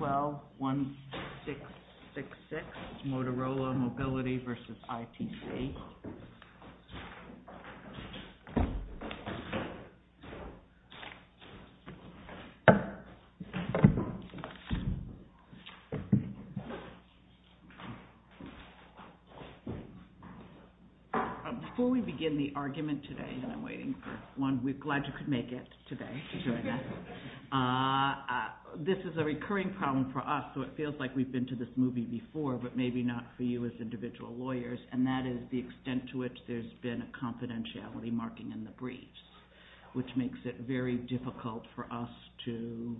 12-1666 MOTOROLA MOBILITY v. ITC Before we begin the argument today, and I'm waiting for one week. Glad you could make it today. This is a recurring problem for us, so it feels like we've been to this movie before, but maybe not for you as individual lawyers, and that is the extent to which there's been a confidentiality marking in the briefs, which makes it very difficult for us to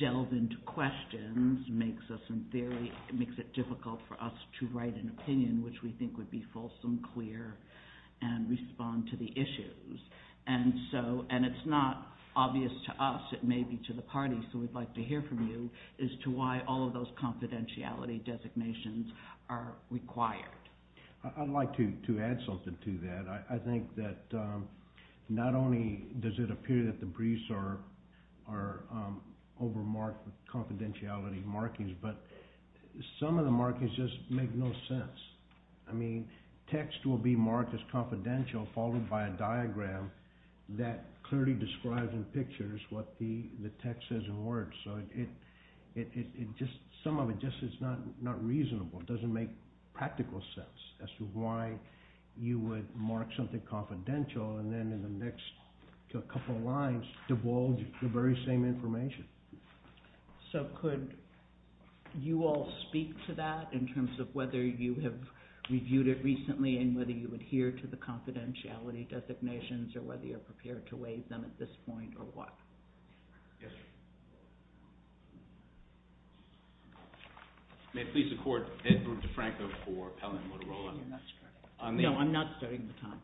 delve into questions. It makes it difficult for us to write an opinion which we think would be fulsome, clear, and respond to the issues. And it's not obvious to us, it may be to the party, so we'd like to hear from you as to why all of those confidentiality designations are required. I'd like to add something to that. I think that not only does it appear that the briefs are overmarked with confidentiality markings, but some of the markings just make no sense. I mean, text will be marked as confidential, followed by a diagram that clearly describes in pictures what the text says in words. Some of it just is not reasonable. It doesn't make practical sense as to why you would mark something confidential, and then in the next couple of lines, divulge the very same information. So could you all speak to that in terms of whether you have reviewed it recently and whether you adhere to the confidentiality designations, or whether you're prepared to waive them at this point, or what? Yes. May it please the Court, Edward DeFranco for Pell and Motorola. No, I'm not starting the time.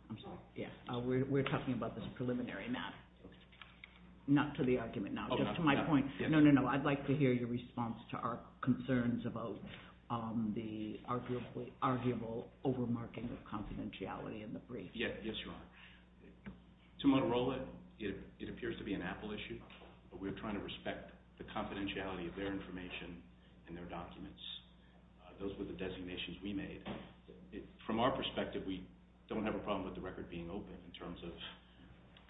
We're talking about this preliminary matter, not to the argument now. No, no, no. I'd like to hear your response to our concerns about the arguable overmarking of confidentiality in the brief. Yes, Your Honor. To Motorola, it appears to be an Apple issue, but we're trying to respect the confidentiality of their information and their documents. Those were the designations we made. From our perspective, we don't have a problem with the record being open in terms of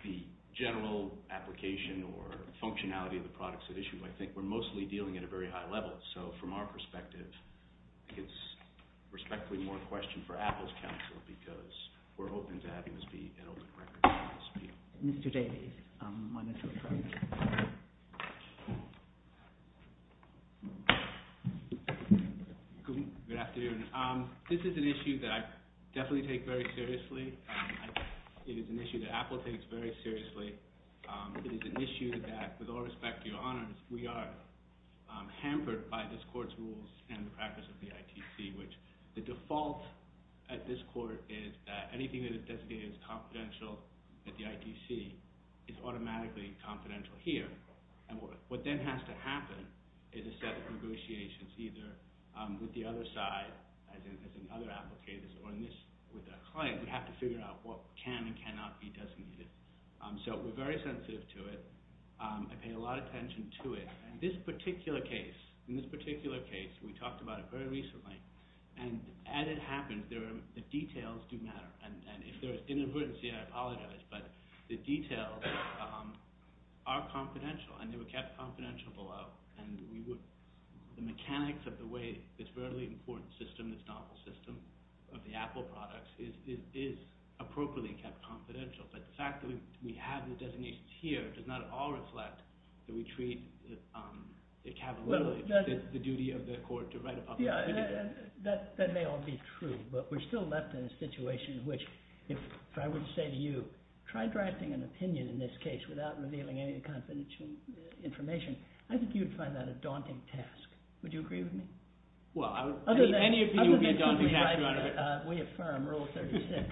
the general application or functionality of the products at issue. I think we're mostly dealing at a very high level. So from our perspective, it's respectfully more a question for Apple's counsel because we're open to having this be an open record. Mr. Davies, my next question. Good afternoon. This is an issue that I definitely take very seriously. It is an issue that Apple takes very seriously. It is an issue that, with all respect to Your Honors, we are hampered by this Court's rules and the practice of the ITC, which the default at this Court is that anything that is designated as confidential at the ITC is automatically confidential here. What then has to happen is a set of negotiations either with the other side, as in other Apple cases, or with a client. We have to figure out what can and cannot be designated. So we're very sensitive to it. I pay a lot of attention to it. In this particular case, we talked about it very recently, and as it happens, the details do matter. If there is an emergency, I apologize, but the details are confidential and they were kept confidential below. The mechanics of the way this very important system, this novel system of the Apple products, is appropriately kept confidential. But the fact that we have the designations here does not at all reflect that we treat the duty of the Court to write a public opinion. That may all be true, but we're still left in a situation in which, if I were to say to you, try drafting an opinion in this case without revealing any confidential information, I think you'd find that a daunting task. Would you agree with me? Well, any opinion would be a daunting task, Your Honor. We affirm Rule 36.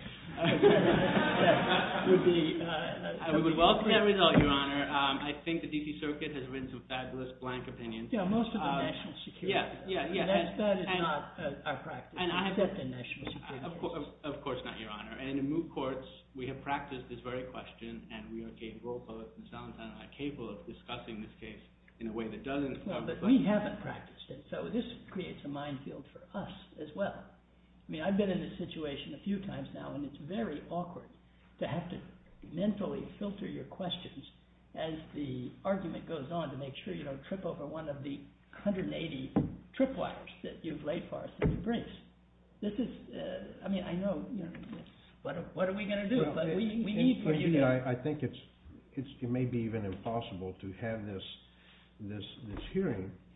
I would welcome that result, Your Honor. I think the D.C. Circuit has written some fabulous blank opinions. Yeah, most of them are national security. That is not our practice, except in national security cases. Of course not, Your Honor. And in moot courts, we have practiced this very question, and we are capable of discussing this case in a way that doesn't— No, but we haven't practiced it, so this creates a minefield for us as well. I mean, I've been in this situation a few times now, and it's very awkward to have to mentally filter your questions as the argument goes on to make sure you don't trip over one of the 180 tripwires that you've laid for us in your briefs. This is—I mean, I know—what are we going to do? But we need for you to—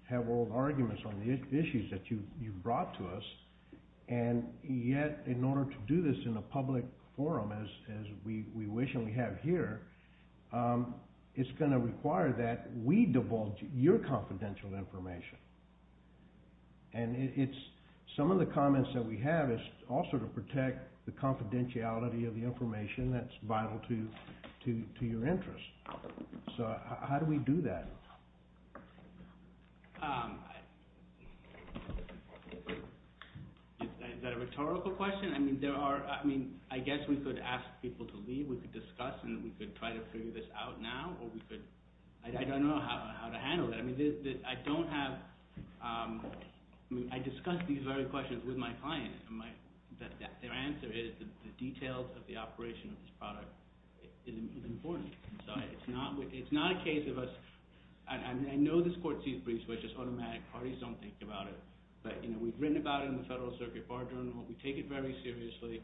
have all the arguments on the issues that you've brought to us, and yet in order to do this in a public forum as we wish and we have here, it's going to require that we divulge your confidential information. And it's—some of the comments that we have is also to protect the confidentiality of the information that's vital to your interests. So how do we do that? Is that a rhetorical question? I mean, there are—I mean, I guess we could ask people to leave. We could discuss, and we could try to figure this out now, or we could—I don't know how to handle that. I mean, I don't have—I mean, I discuss these very questions with my clients, and their answer is the details of the operation of this product is important. So it's not a case of us—I mean, I know this court sees briefs, which is automatic. Parties don't think about it. But we've written about it in the Federal Circuit Bar Journal. We take it very seriously.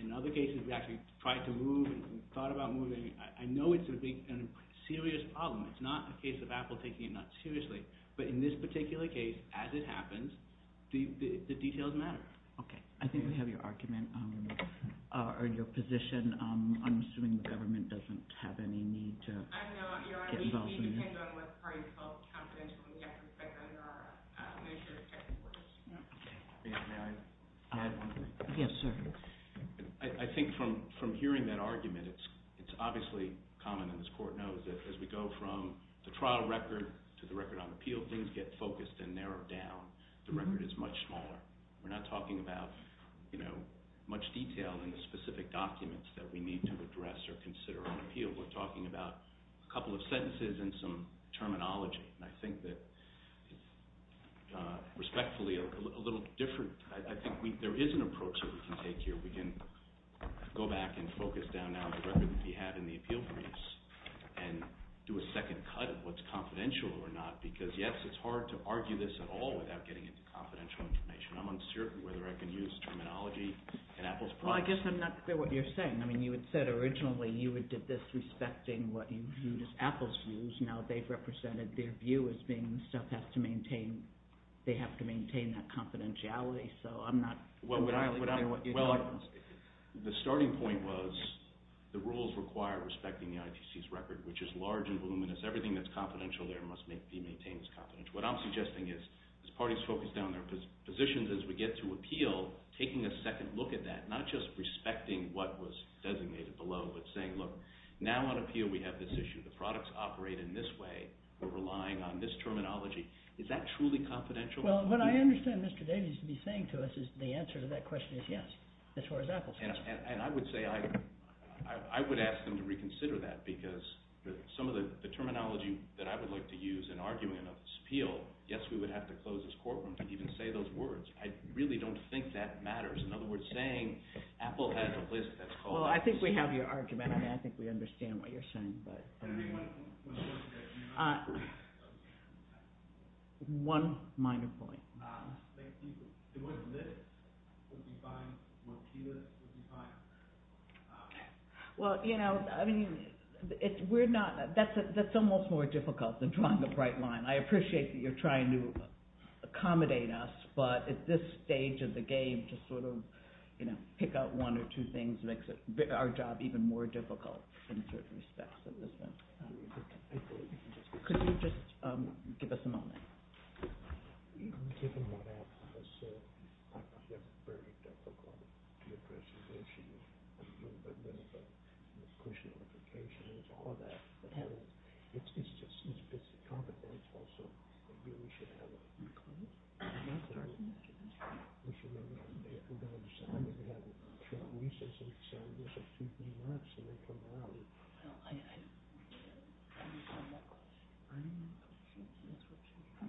In other cases, we actually tried to move and thought about moving. I know it's going to be a serious problem. It's not a case of Apple taking it not seriously. But in this particular case, as it happens, the details matter. Okay. I think we have your argument or your position. I'm assuming the government doesn't have any need to get involved in this. I know. You're right. We depend on what the parties felt confidentially have to expect under our measure of technical assistance. May I add one more? Yes, sir. I think from hearing that argument, it's obviously common, and this court knows, that as we go from the trial record to the record on appeal, things get focused and narrowed down. The record is much smaller. We're not talking about much detail in the specific documents that we need to address or consider on appeal. We're talking about a couple of sentences and some terminology. And I think that respectfully, a little different—I think there is an approach that we can take here. We can go back and focus down now the record that we have in the appeal briefs and do a second cut of what's confidential or not. Because, yes, it's hard to argue this at all without getting into confidential information. I'm uncertain whether I can use terminology in Apple's process. Well, I guess I'm not clear what you're saying. I mean, you had said originally you did this respecting what you view as Apple's views. Now they've represented their view as being stuff has to maintain—they have to maintain that confidentiality. The starting point was the rules require respecting the IPC's record, which is large and voluminous. Everything that's confidential there must be maintained as confidential. What I'm suggesting is, as parties focus down their positions as we get to appeal, taking a second look at that, not just respecting what was designated below, but saying, look, now on appeal we have this issue. The products operate in this way. We're relying on this terminology. Is that truly confidential? Well, what I understand Mr. Davies to be saying to us is the answer to that question is yes, as far as Apple's concerned. And I would say I would ask them to reconsider that because some of the terminology that I would like to use in arguing an appeal, yes, we would have to close this courtroom to even say those words. I really don't think that matters. In other words, saying Apple has a list that's called— Well, I think we have your argument, and I think we understand what you're saying. Can I make one point? One minor point. Thank you. If it wasn't this, it would be fine. If it wasn't here, it would be fine. Well, you know, we're not—that's almost more difficult than drawing a bright line. I appreciate that you're trying to accommodate us, but at this stage of the game to sort of pick out one or two things makes our job even more difficult in certain respects. Could you just give us a moment? Given what Apple has said, I think we have a very difficult time to address the issue of pushing notifications, all of that. It's a complicated process, so I think we should have a— I'm sorry? If you don't understand what you're having trouble with, it's keeping you up, so they come around. Well, I— I don't know.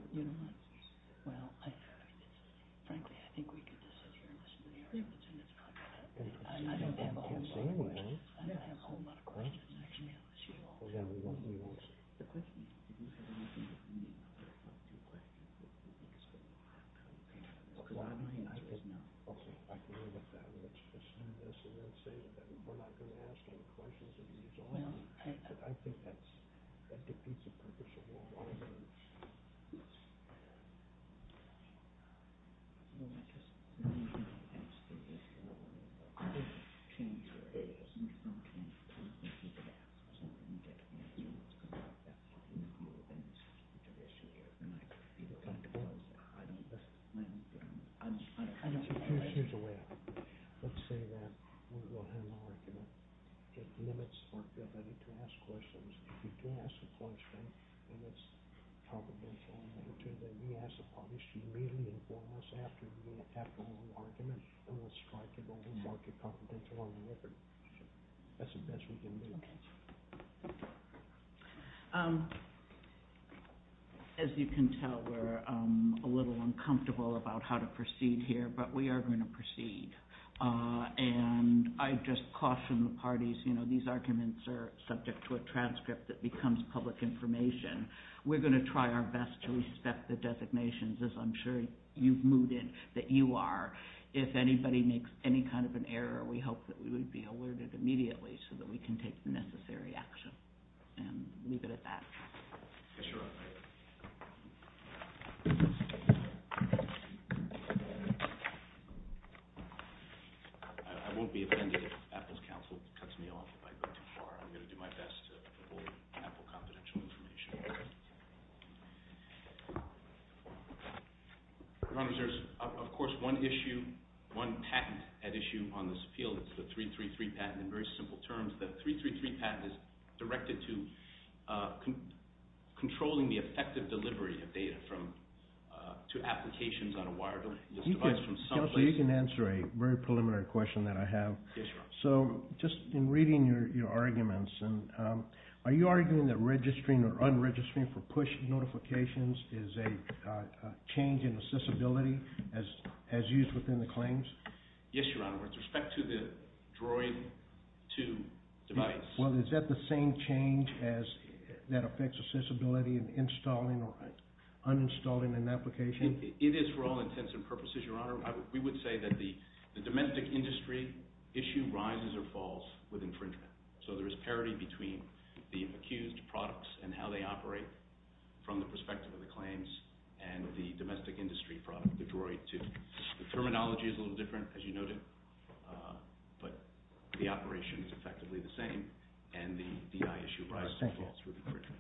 You don't want to? Well, frankly, I think we could just sit here and listen to the arguments, and it's fine with us. I don't have a whole lot of questions. I don't have a whole lot of questions, actually. Well, then we don't need to answer the questions. Do you have anything that you would like to request that we discuss? I don't have a lot of ideas, no. Okay, I can look at it. Let's assume this, and let's say that we're not going to answer the questions that you've drawn. Well, I— I think that's—I think that's the purpose of all of our meetings. Yes. Well, I guess— Well, you can't answer this one. I can't answer it. You can't answer it. You can't answer it. You can't answer it. I don't—I don't know. I don't know. I don't know. Let's say that we'll have a—we'll get minutes to answer any last questions. If you do ask a question, and it's confidential, then we ask the parties to meet and inform us after you have drawn the argument, and we'll strive to go ahead and mark your confidentiality record. That's the best we can do. As you can tell, we're a little uncomfortable about how to proceed here, but we are going to proceed. And I just caution the parties, you know, if these arguments are subject to a transcript that becomes public information, we're going to try our best to respect the designations, as I'm sure you've moved in, that you are. If anybody makes any kind of an error, we hope that we would be alerted immediately so that we can take the necessary action. And leave it at that. Yes, Your Honor. I won't be offended if Apple's counsel cuts me off if I go too far. I'm going to do my best to hold Apple confidential information. Your Honor, there's, of course, one issue, one patent at issue on this appeal. It's the 333 patent. In very simple terms, the 333 patent is directed to controlling the Apple company and the effective delivery of data to applications on a wireless device from someplace. Counselor, you can answer a very preliminary question that I have. Yes, Your Honor. So, just in reading your arguments, are you arguing that registering or unregistering for push notifications is a change in accessibility as used within the claims? Yes, Your Honor, with respect to the Droid 2 device. Well, is that the same change that affects accessibility in installing or uninstalling an application? It is for all intents and purposes, Your Honor. We would say that the domestic industry issue rises or falls with infringement. So there is parity between the accused products and how they operate from the perspective of the claims and the domestic industry product, the Droid 2. The terminology is a little different, as you noted, but the operation is effectively the same, and the D.I. issue rises or falls with infringement.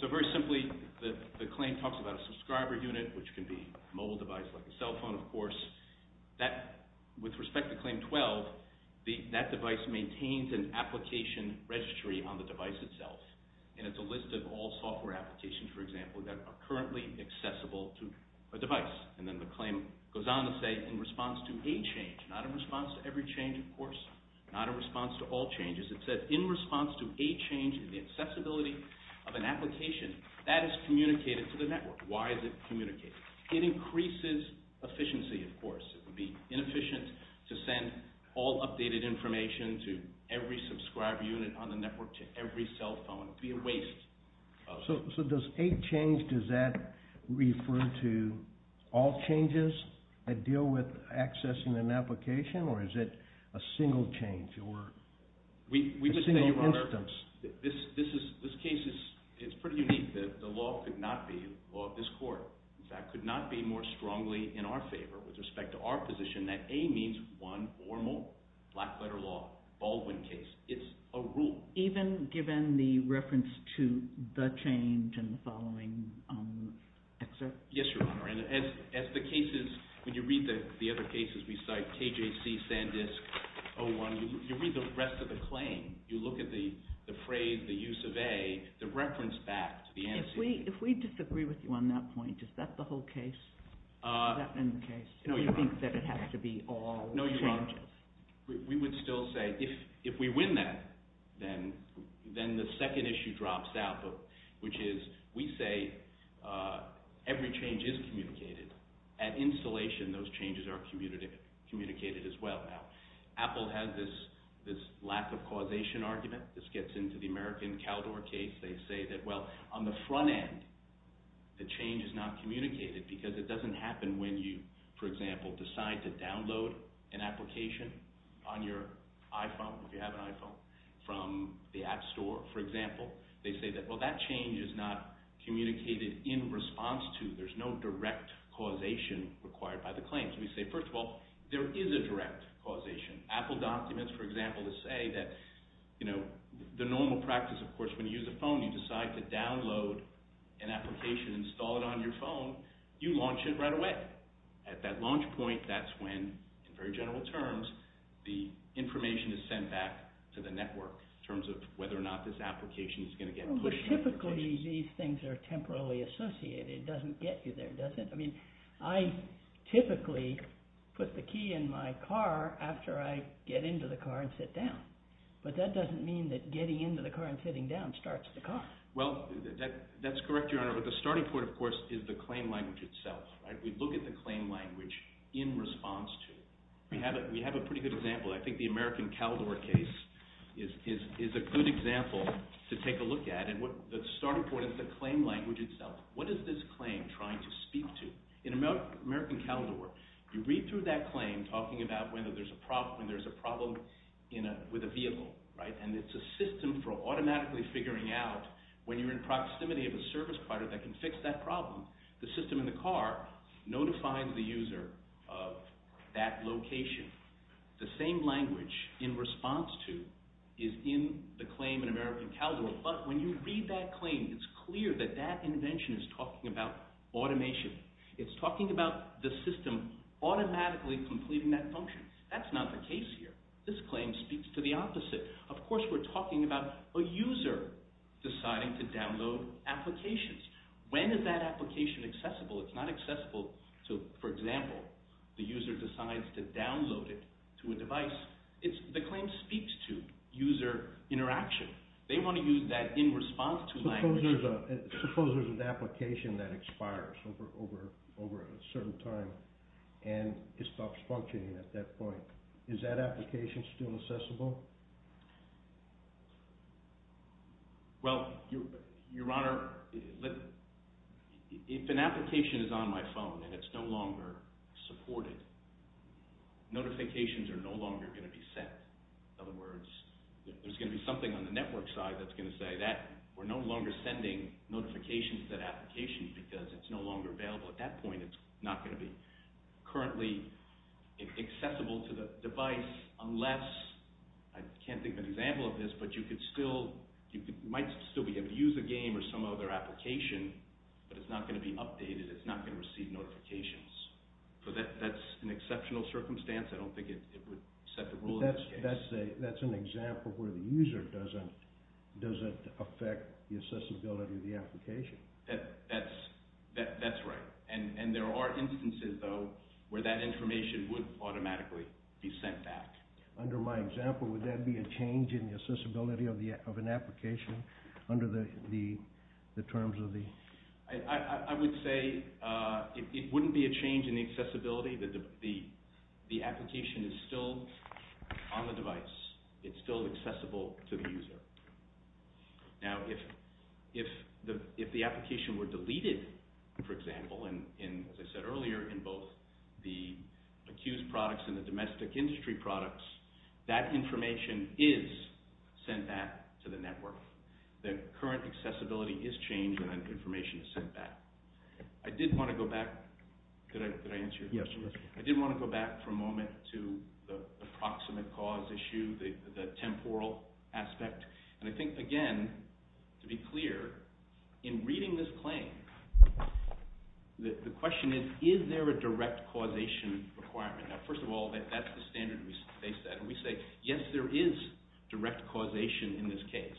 So very simply, the claim talks about a subscriber unit, which can be a mobile device like a cell phone, of course. With respect to Claim 12, that device maintains an application registry on the device itself, and it's a list of all software applications, for example, that are currently accessible to a device. And then the claim goes on to say, in response to a change, not in response to every change, of course, not in response to all changes, it says, in response to a change in the accessibility of an application, that is communicated to the network. Why is it communicated? It increases efficiency, of course. It would be inefficient to send all updated information to every subscriber unit on the network, to every cell phone. It would be a waste. So does a change, does that refer to all changes that deal with accessing an application, or is it a single change, or a single instance? We would say, Your Honor, this case is pretty unique. The law could not be the law of this court. That could not be more strongly in our favor, with respect to our position, that A means one, formal, black-letter law, Baldwin case. It's a rule. Even given the reference to the change in the following excerpt? Yes, Your Honor. As the cases, when you read the other cases we cite, KJC, Sandisk, O1, you read the rest of the claim. You look at the phrase, the use of A, the reference back to the antecedent. If we disagree with you on that point, is that the whole case? Is that in the case? No, You're wrong. Do you think that it has to be all changes? We would still say, if we win that, then the second issue drops out, which is, we say every change is communicated. At installation, those changes are communicated as well. Now, Apple has this lack of causation argument. This gets into the American Caldor case. They say that, well, on the front end, the change is not communicated because it doesn't happen when you, for example, decide to download an application on your iPhone, if you have an iPhone, from the App Store, for example. They say that, well, that change is not communicated in response to, there's no direct causation required by the claims. We say, first of all, there is a direct causation. Apple documents, for example, to say that, you know, the normal practice, of course, when you use a phone, you decide to download an application, install it on your phone, you launch it right away. At that launch point, that's when, in very general terms, the information is sent back to the network, in terms of whether or not this application is going to get pushed. But typically, these things are temporarily associated. It doesn't get you there, does it? I mean, I typically put the key in my car after I get into the car and sit down. But that doesn't mean that getting into the car and sitting down starts the car. Well, that's correct, Your Honor. But the starting point, of course, is the claim language itself. We look at the claim language in response to. We have a pretty good example. I think the American Caldor case is a good example to take a look at. The starting point is the claim language itself. What is this claim trying to speak to? In American Caldor, you read through that claim talking about whether there's a problem with a vehicle. And it's a system for automatically figuring out, when you're in proximity of a service provider that can fix that problem, the system in the car notifies the user of that location. The same language in response to is in the claim in American Caldor. But when you read that claim, it's clear that that invention is talking about automation. It's talking about the system automatically completing that function. That's not the case here. This claim speaks to the opposite. Of course, we're talking about a user deciding to download applications. When is that application accessible? It's not accessible to, for example, the user decides to download it to a device. The claim speaks to user interaction. They want to use that in response to language. Suppose there's an application that expires over a certain time, and it stops functioning at that point. Is that application still accessible? Well, Your Honor, if an application is on my phone and it's no longer supported, notifications are no longer going to be sent. In other words, there's going to be something on the network side that's going to say that we're no longer sending notifications to that application because it's no longer available. At that point, it's not going to be currently accessible to the device, unless, I can't think of an example of this, but you might still be able to use a game or some other application, but it's not going to be updated. It's not going to receive notifications. That's an exceptional circumstance. I don't think it would set the rule in that case. That's an example where the user doesn't affect the accessibility of the application. That's right. And there are instances, though, where that information would automatically be sent back. Under my example, would that be a change in the accessibility of an application? I would say it wouldn't be a change in the accessibility. The application is still on the device. It's still accessible to the user. Now, if the application were deleted, for example, and as I said earlier, in both the accused products and the domestic industry products, that information is sent back to the network. The current accessibility is changed and that information is sent back. I did want to go back. Could I answer your question? Yes. I did want to go back for a moment to the approximate cause issue, the temporal aspect. And I think, again, to be clear, in reading this claim, the question is, is there a direct causation requirement? Now, first of all, that's the standard they set. And we say, yes, there is direct causation in this case.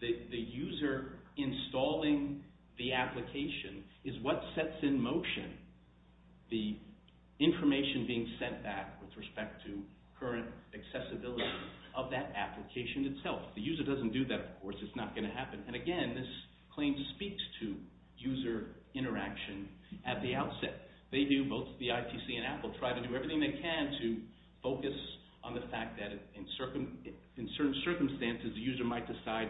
The user installing the application is what sets in motion the information being sent back with respect to current accessibility of that application itself. The user doesn't do that, of course. It's not going to happen. And, again, this claim speaks to user interaction at the outset. They do, both the ITC and Apple, try to do everything they can to focus on the fact that in certain circumstances, the user might decide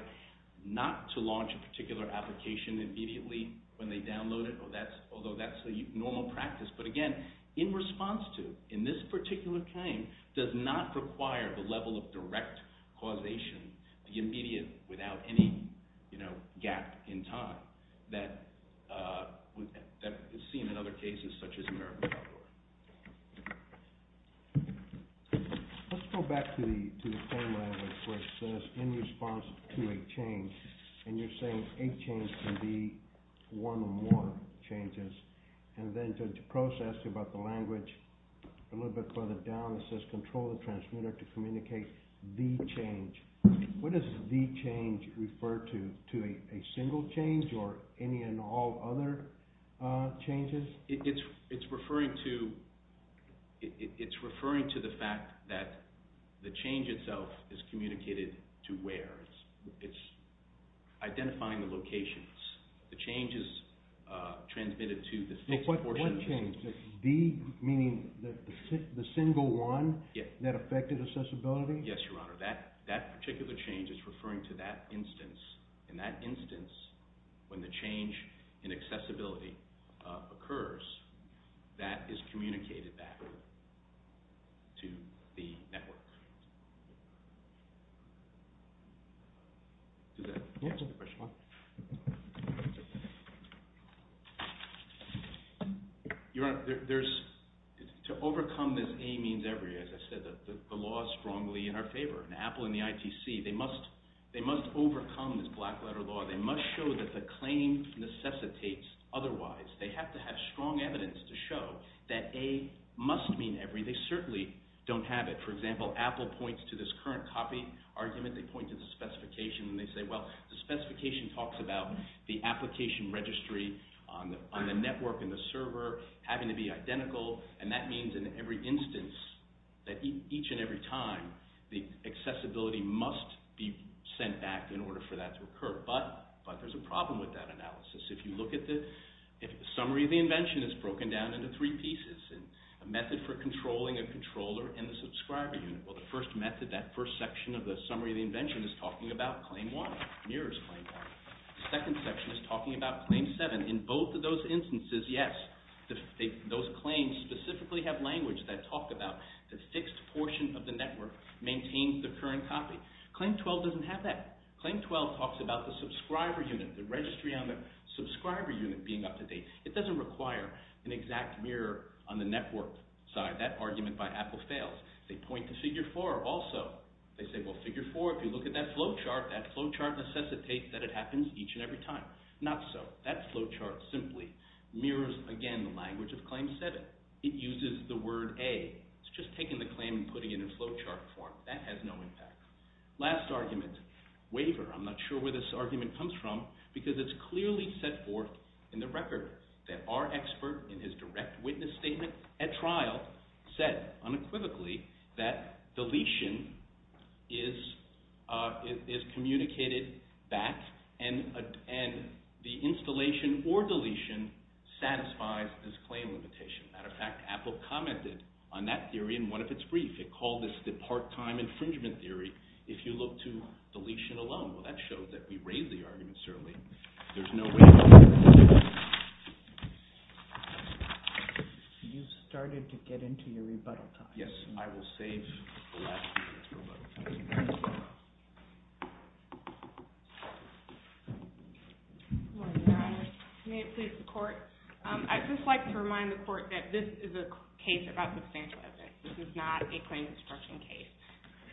not to launch a particular application immediately when they download it, although that's the normal practice. But, again, in response to, in this particular claim, does not require the level of direct causation, the immediate, without any gap in time that is seen in other cases such as AmeriCorps. Let's go back to the claim I have, which says, in response to a change, and you're saying a change can be one or more changes, and then to process about the language a little bit further down, it says control the transmitter to communicate the change. What does the change refer to? To a single change or any and all other changes? It's referring to the fact that the change itself is communicated to where. It's identifying the locations. The change is transmitted to the... What change? The, meaning the single one that affected accessibility? Yes, Your Honor. That particular change is referring to that instance, and that instance, when the change in accessibility occurs, that is communicated back to the network. Does that answer the question? Your Honor, there's, to overcome this A means every, as I said, the law is strongly in our favor, and Apple and the ITC, they must overcome this black letter law. They must show that the claim necessitates otherwise. They have to have strong evidence to show that A must mean every. They certainly don't have it. For example, Apple points to this current copy argument. They point to the specification, and they say, well, the specification talks about the application registry on the network and the server having to be identical, and that means in every instance, that each and every time, the accessibility must be sent back in order for that to occur. But there's a problem with that analysis. If you look at the summary of the invention, it's broken down into three pieces. A method for controlling a controller and the subscriber unit. Well, the first method, that first section of the summary of the invention is talking about Claim 1, Mirror's Claim 1. The second section is talking about Claim 7. In both of those instances, yes, those claims specifically have language that talk about the fixed portion of the network maintains the current copy. Claim 12 doesn't have that. Claim 12 talks about the subscriber unit, the registry on the subscriber unit being up to date. It doesn't require an exact mirror on the network side. That argument by Apple fails. They point to Figure 4 also. They say, well, Figure 4, if you look at that flowchart, that flowchart necessitates that it happens each and every time. Not so. That flowchart simply mirrors, again, the language of Claim 7. It uses the word A. It's just taking the claim and putting it in flowchart form. That has no impact. Last argument, Waiver. I'm not sure where this argument comes from, because it's clearly set forth in the record that our expert, in his direct witness statement at trial, said unequivocally that deletion is communicated back and the installation or deletion satisfies this claim limitation. Matter of fact, Apple commented on that theory in one of its briefs. It called this the part-time infringement theory. If you look to deletion alone, well, that shows that we raise the argument, certainly. There's no way to do it. You've started to get into your rebuttal time. Yes. I will save the last few minutes for rebuttal time. Thank you very much. Good morning, Your Honor. May it please the Court? I'd just like to remind the Court that this is a case about substantial evidence. This is not a claim construction case.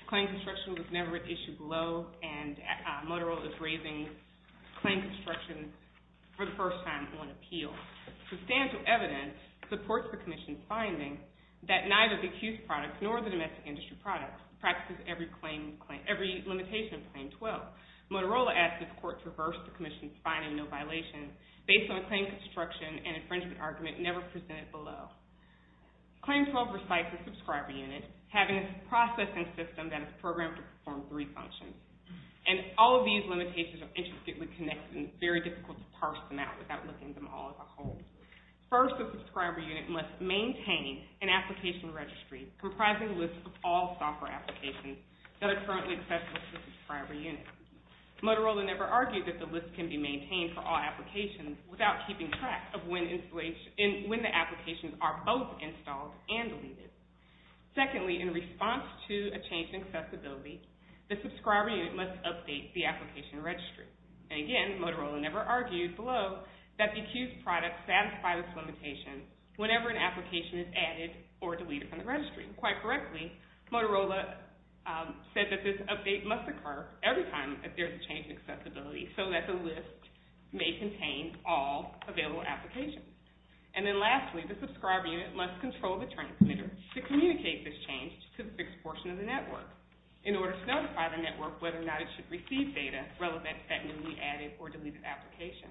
Claim construction was never an issue below, and Motorola is raising claim construction for the first time on appeal. Substantial evidence supports the Commission's finding that neither the accused product nor the domestic industry product practices every limitation of Claim 12. Motorola asked if the Court traversed the Commission's finding, no violations, based on a claim construction and infringement argument never presented below. Claim 12 recites the subscriber unit, having a processing system that is programmed to perform three functions. And all of these limitations are intricately connected and very difficult to parse them out without looking at them all as a whole. First, the subscriber unit must maintain an application registry comprising lists of all software applications that are currently accessible to the subscriber unit. Motorola never argued that the list can be maintained for all applications without keeping track of when the applications are both installed and deleted. Secondly, in response to a change in accessibility, the subscriber unit must update the application registry. And again, Motorola never argued below that the accused product satisfied this limitation whenever an application is added or deleted from the registry. Quite correctly, Motorola said that this update must occur every time that there is a change in accessibility so that the list may contain all available applications. And then lastly, the subscriber unit must control the transmitter to communicate this change to a fixed portion of the network in order to notify the network whether or not it should receive data relevant to that newly added or deleted application.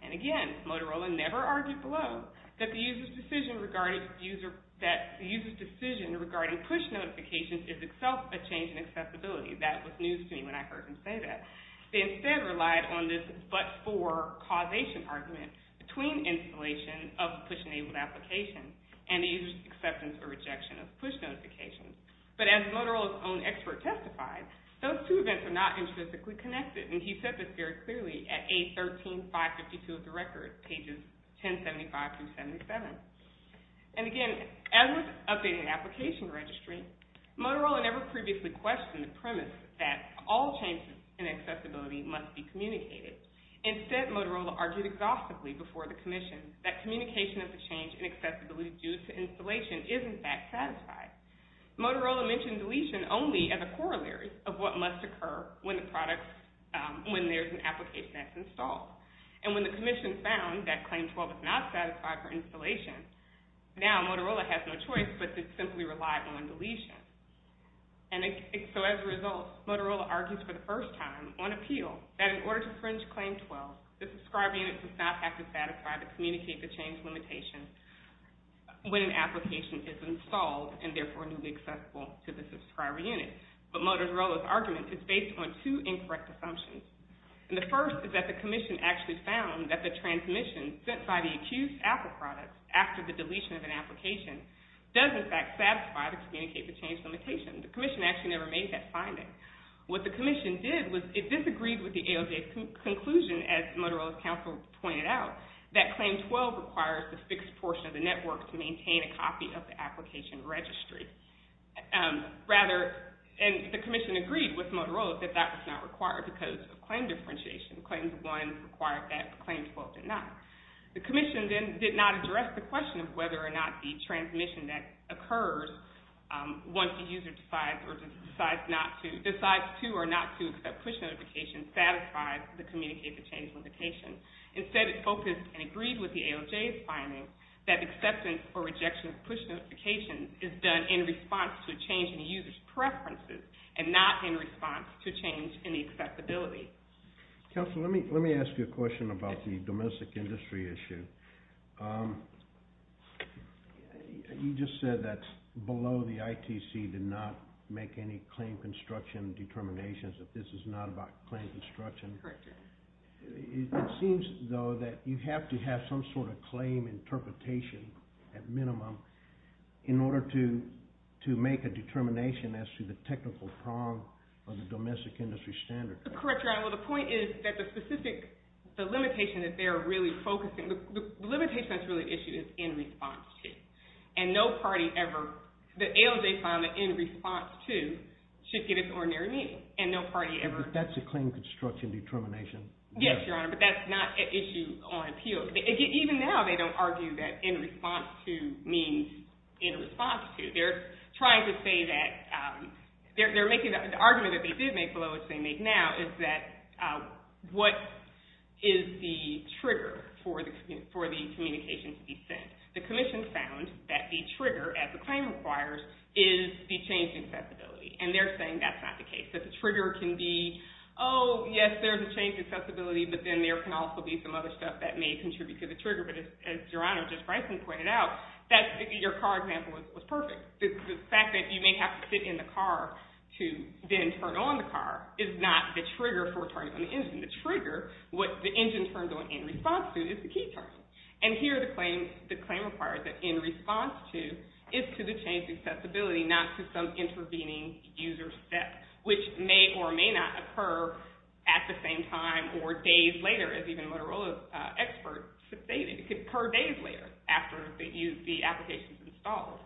And again, Motorola never argued below that the user's decision regarding push notifications is itself a change in accessibility. That was news to me when I heard him say that. They instead relied on this but-for causation argument between installation of push-enabled applications and the user's acceptance or rejection of push notifications. But as Motorola's own expert testified, those two events are not intrinsically connected. And he said this very clearly at page 13552 of the record, pages 1075-77. And again, as with updating the application registry, Motorola never previously questioned the premise that all changes in accessibility must be communicated. Instead, Motorola argued exhaustively before the commission that communication of the change in accessibility due to installation is in fact satisfied. Motorola mentioned deletion only as a corollary of what must occur when there's an application that's installed. And when the commission found that Claim 12 was not satisfied for installation, now Motorola has no choice but to simply rely on deletion. And so as a result, Motorola argues for the first time on appeal that in order to fringe Claim 12, the subscriber unit does not have to satisfy the communicate-the-change limitation when an application is installed and therefore newly accessible to the subscriber unit. But Motorola's argument is based on two incorrect assumptions. And the first is that the commission actually found that the transmission sent by the accused Apple product after the deletion of an application The commission actually never made that finding. What the commission did was it disagreed with the AOJ's conclusion, as Motorola's counsel pointed out, that Claim 12 requires the fixed portion of the network to maintain a copy of the application registry. And the commission agreed with Motorola that that was not required because of claim differentiation. Claims 1 required that, but Claim 12 did not. The commission then did not address the question of whether or not the transmission that occurs once the user decides to or not to accept push notifications satisfies the communicate-the-change limitation. Instead, it focused and agreed with the AOJ's findings that acceptance or rejection of push notifications is done in response to a change in the user's preferences and not in response to a change in the accessibility. Counselor, let me ask you a question about the domestic industry issue. You just said that below the ITC did not make any claim construction determinations, that this is not about claim construction. Correct, Your Honor. It seems, though, that you have to have some sort of claim interpretation at minimum in order to make a determination as to the technical prong of the domestic industry standard. Correct, Your Honor. Well, the point is that the specific limitation that they're really focusing... The limitation that's really issued is in response to, and no party ever... The AOJ found that in response to should get its ordinary meaning, and no party ever... But that's a claim construction determination. Yes, Your Honor, but that's not an issue on appeal. Even now, they don't argue that in response to means in response to. They're trying to say that... The argument that they did make below, which they make now, is that what is the trigger for the communication to be sent. The Commission found that the trigger, as the claim requires, is the change in accessibility. And they're saying that's not the case. That the trigger can be, oh, yes, there's a change in accessibility, but then there can also be some other stuff that may contribute to the trigger. But as Your Honor, just Bryson pointed out, your car example was perfect. The fact that you may have to sit in the car to then turn on the car is not the trigger for turning on the engine. The trigger, what the engine turns on in response to, is the key turning. And here, the claim requires that in response to is to the change in accessibility, not to some intervening user step, which may or may not occur at the same time or days later, as even Motorola experts stated. It could occur days later, after the application's installed.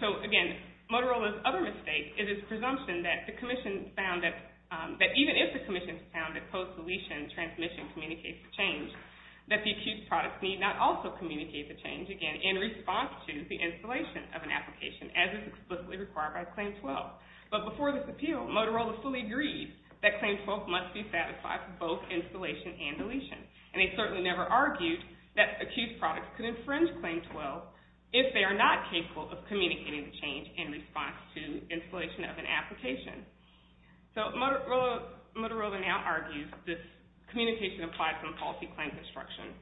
So, again, Motorola's other mistake is its presumption that the Commission found that even if the Commission found that post-deletion transmission communicates the change, that the accused product need not also communicate the change, again, in response to the installation of an application, as is explicitly required by Claim 12. But before this appeal, Motorola fully agreed that Claim 12 must be satisfied for both installation and deletion. And they certainly never argued that accused products could infringe Claim 12 if they are not capable of communicating the change in response to installation of an application. So, Motorola now argues this communication applies to the policy claim construction,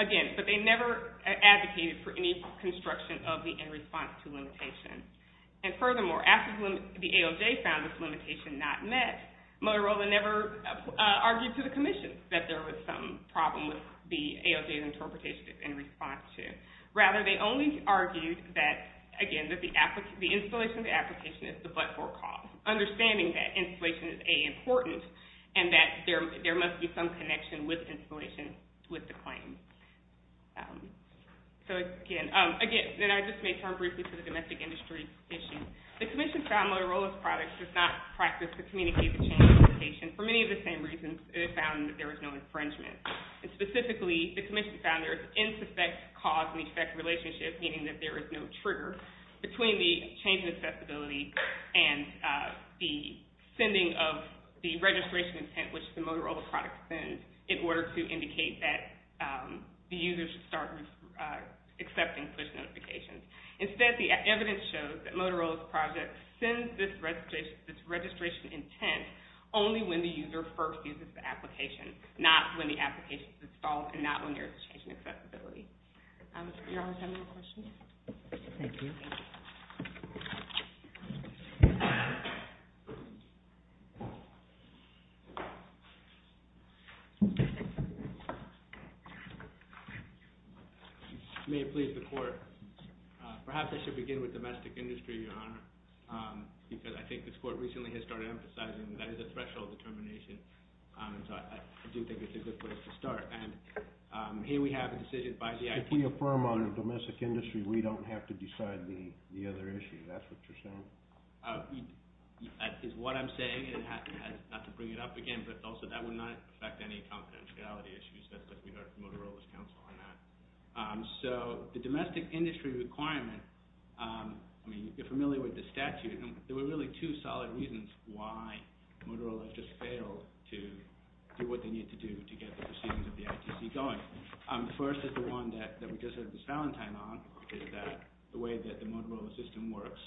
again, but they never advocated for any construction of the in response to limitation. And furthermore, after the AOJ found this limitation not met, Motorola never argued to the Commission that there was some problem with the AOJ's interpretation in response to it. Rather, they only argued that, again, that the installation of the application is the but-for cause, understanding that installation is, A, important, and that there must be some connection with installation with the claim. So, again, and I just may turn briefly to the domestic industry issue. The Commission found Motorola's product does not practice the communication for many of the same reasons it found that there was no infringement. And specifically, the Commission found there is an insuspect cause and effect relationship, meaning that there is no trigger, between the change in accessibility and the sending of the registration intent which the Motorola product sends in order to indicate that the user should start accepting push notifications. Instead, the evidence shows that Motorola's project sends this registration intent only when the user first uses the application, not when the application is installed and not when there is a change in accessibility. Your Honor, do you have a question? Thank you. May it please the Court. Perhaps I should begin with domestic industry, Your Honor, because I think this Court recently has started emphasizing that is a threshold determination. So I do think it's a good place to start. And here we have a decision by the IPC... If we affirm on a domestic industry, we don't have to decide the other issue. That's what you're saying? That is what I'm saying, and not to bring it up again, but also that would not affect any confidentiality issues that we heard from Motorola's counsel on that. So the domestic industry requirement, I mean, you're familiar with the statute, and there were really two solid reasons why Motorola just failed to do what they needed to do to get the proceedings of the IPC going. The first is the one that we just had this Valentine on, is that the way that the Motorola system works,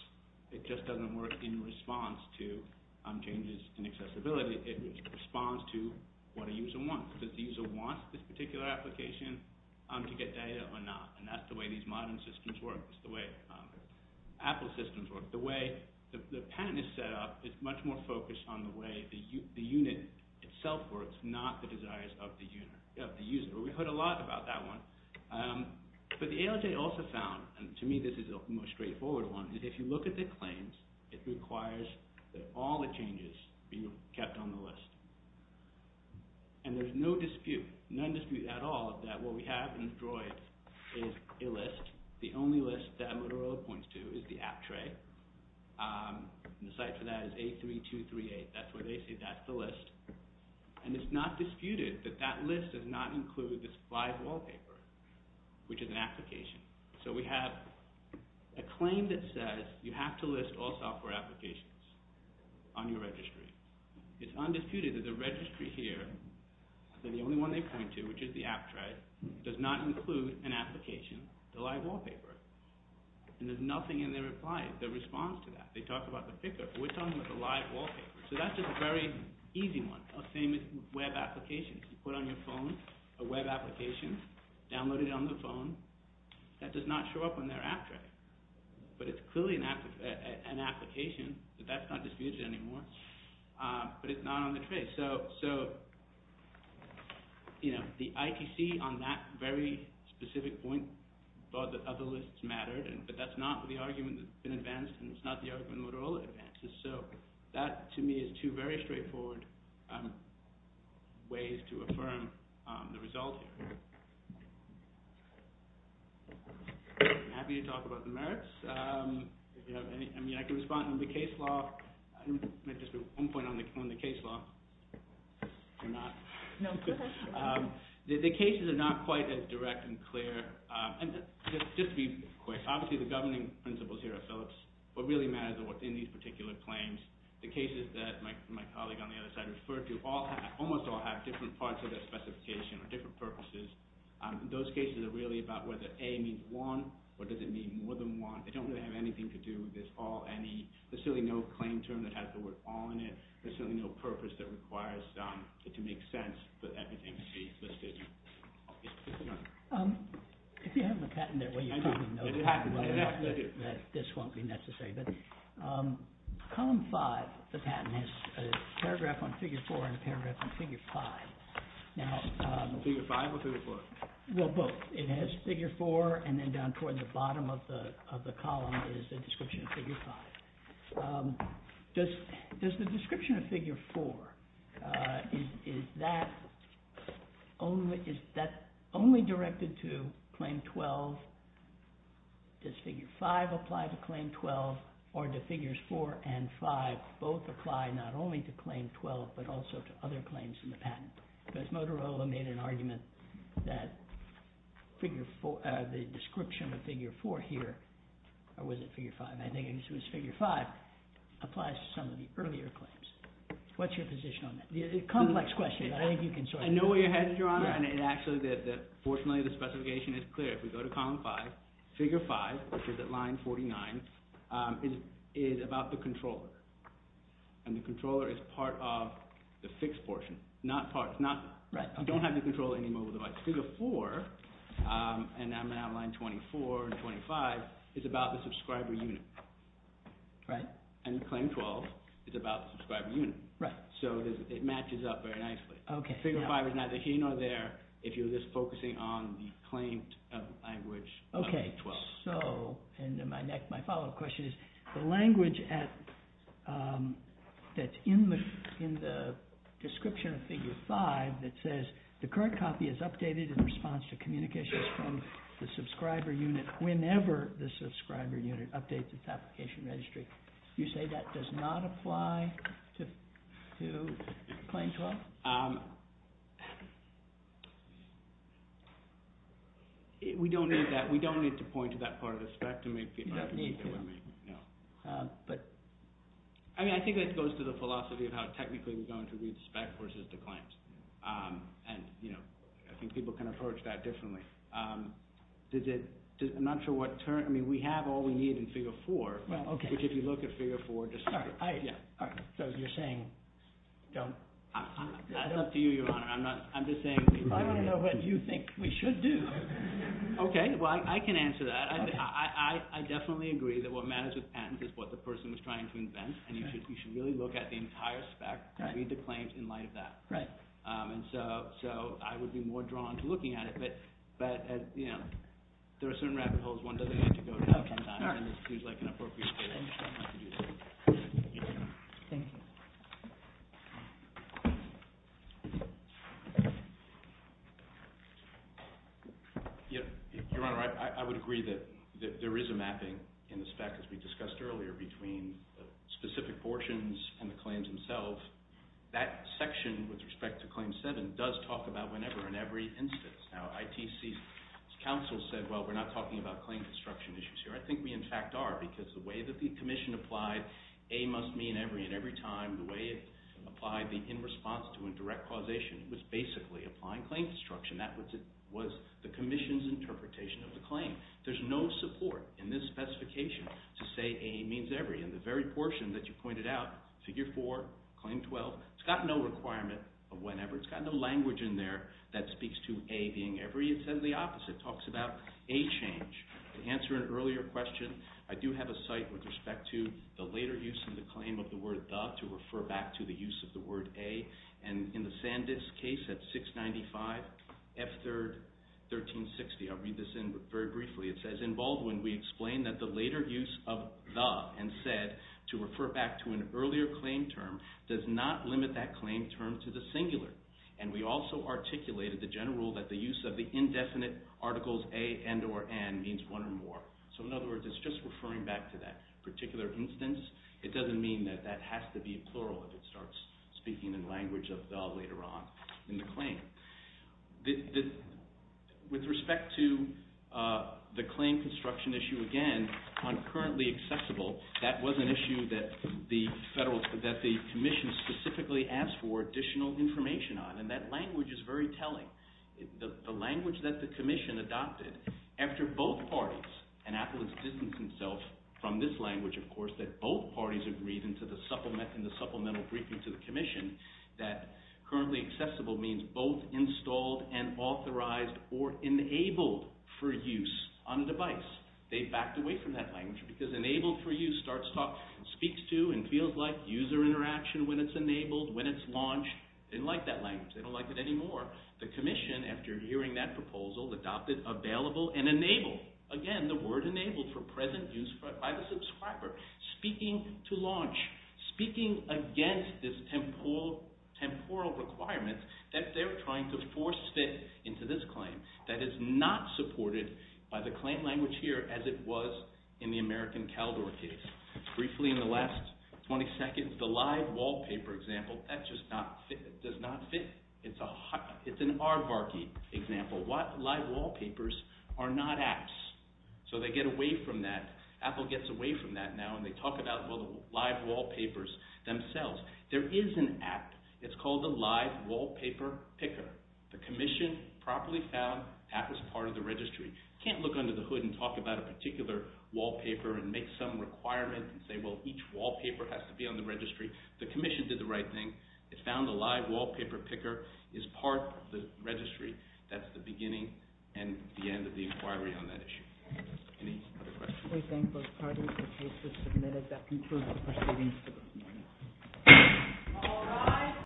it just doesn't work in response to changes in accessibility. It responds to what a user wants. Does the user want this particular application to get data or not? And that's the way these modern systems work. That's the way Apple systems work. The way the patent is set up is much more focused on the way the unit itself works, not the desires of the user. We heard a lot about that one. But the ALJ also found, and to me this is the most straightforward one, is if you look at the claims, it requires that all the changes be kept on the list. And there's no dispute, none dispute at all, that what we have in the DROID is a list. The only list that Motorola points to is the app tray. The site for that is A3238. That's where they say that's the list. And it's not disputed that that list does not include this live wallpaper, which is an application. So we have a claim that says you have to list all software applications on your registry. It's undisputed that the registry here, the only one they point to, which is the app tray, does not include an application, the live wallpaper. And there's nothing in their reply, their response to that. They talk about the picker, but we're talking about the live wallpaper. So that's just a very easy one. Same with web applications. You put on your phone a web application, download it on the phone. That does not show up on their app tray. But it's clearly an application, but that's not disputed anymore. But it's not on the tray. Okay, so the ITC on that very specific point thought that other lists mattered, but that's not the argument that's been advanced, and it's not the argument Motorola advances. So that, to me, is two very straightforward ways to affirm the result here. I'm happy to talk about the merits. I mean, I can respond to the case law. Just one point on the case law. The cases are not quite as direct and clear. And just to be quick, obviously the governing principles here are Phillips. What really matters are what's in these particular claims. The cases that my colleague on the other side referred to almost all have different parts of their specification or different purposes. Those cases are really about whether A means one or does it mean more than one. They don't really have anything to do with this all, any. There's certainly no claim term that has the word all in it. There's certainly no purpose that requires it to make sense, but that becomes a decision. If you have a patent that way, you probably know the patent well enough that this won't be necessary. But Column 5 of the patent has a paragraph on Figure 4 and a paragraph on Figure 5. Figure 5 or Figure 4? Well, both. It has Figure 4, and then down toward the bottom of the column is the description of Figure 5. Does the description of Figure 4, is that only directed to Claim 12? Does Figure 5 apply to Claim 12? Or do Figures 4 and 5 both apply not only to Claim 12 but also to other claims in the patent? Because Motorola made an argument that the description of Figure 4 here or was it Figure 5? I think it was Figure 5 applies to some of the earlier claims. What's your position on that? It's a complex question, but I think you can sort it out. I know where you're headed, Your Honor. And actually, fortunately, the specification is clear. If we go to Column 5, Figure 5, which is at line 49, is about the controller. And the controller is part of the fixed portion. You don't have the control of any mobile device. Figure 4, and I'm at line 24 and 25, is about the subscriber unit. And Claim 12 is about the subscriber unit. So it matches up very nicely. Figure 5 is neither here nor there if you're just focusing on the claimed language of Claim 12. My follow-up question is, the language that's in the description of Figure 5 that says the current copy is updated in response to communications from the subscriber unit whenever the subscriber unit updates its application registry. You say that does not apply to Claim 12? We don't need that. We don't need to point to that part of the spec to make the argument. You don't need to. No. But... I mean, I think that goes to the philosophy of how technically we're going to read spec versus the claims. And, you know, I think people can approach that differently. Does it... I'm not sure what... I mean, we have all we need in Figure 4, but if you look at Figure 4... All right. So you're saying don't... That's up to you, Your Honor. I'm just saying... I want to know what you think we should do. Okay. Well, I can answer that. I definitely agree that what matters with patents is what the person was trying to invent, and you should really look at the entire spec, read the claims in light of that. Right. And so I would be more drawn to looking at it, but, you know, there are certain rabbit holes one doesn't get to go to sometimes, and this seems like an appropriate time to do so. Thank you. Your Honor, I would agree that there is a mapping in the spec, as we discussed earlier, between specific portions and the claims themselves. That section with respect to Claim 7 does talk about whenever and every instance. Now, ITC's counsel said, well, we're not talking about claim construction issues here. I think we, in fact, are, because the way that the commission applied a must mean every and every time, the way it applied the in response to and direct causation was basically applying claim construction. That was the commission's interpretation of the claim. There's no support in this specification to say a means every. In the very portion that you pointed out, Figure 4, Claim 12, it's got no requirement of whenever. It's got no language in there that speaks to a being every. It says the opposite. It talks about a change. To answer an earlier question, I do have a cite with respect to the later use of the claim of the word the to refer back to the use of the word a, and in the Sandisk case at 695, F3rd 1360. I'll read this in very briefly. It says, In Baldwin, we explained that the later use of the and said to refer back to an earlier claim term does not limit that claim term to the singular, and we also articulated the general rule that the use of the indefinite articles a and or n means one or more. So, in other words, it's just referring back to that particular instance. It doesn't mean that that has to be plural if it starts speaking in language of the later on in the claim. With respect to the claim construction issue, again, on currently accessible, that was an issue that the commission specifically asked for additional information on, and that language is very telling. The language that the commission adopted after both parties, and Apple has distanced himself from this language, of course, that both parties agreed in the supplemental briefing to the commission that currently accessible means both installed and authorized or enabled for use on a device. They backed away from that language because enabled for use speaks to and feels like user interaction when it's enabled, when it's launched. They didn't like that language. They don't like it anymore. The commission, after hearing that proposal, adopted available and enabled. Again, the word enabled for present use by the subscriber. Speaking to launch. Speaking against this temporal requirement that they're trying to force fit into this claim that is not supported by the claim language here as it was in the American Caldor case. Briefly, in the last 20 seconds, the live wallpaper example, that just does not fit. It's an R Varki example. Live wallpapers are not apps, so they get away from that. Apple gets away from that now, and they talk about the live wallpapers themselves. There is an app. It's called the Live Wallpaper Picker. The commission properly found that was part of the registry. Can't look under the hood and talk about a particular wallpaper and make some requirements and say, well, each wallpaper has to be on the registry. The commission did the right thing. It found the Live Wallpaper Picker is part of the registry. That's the beginning and the end of the inquiry on that issue. Any other questions? We thank both parties for cases submitted. That concludes the proceedings.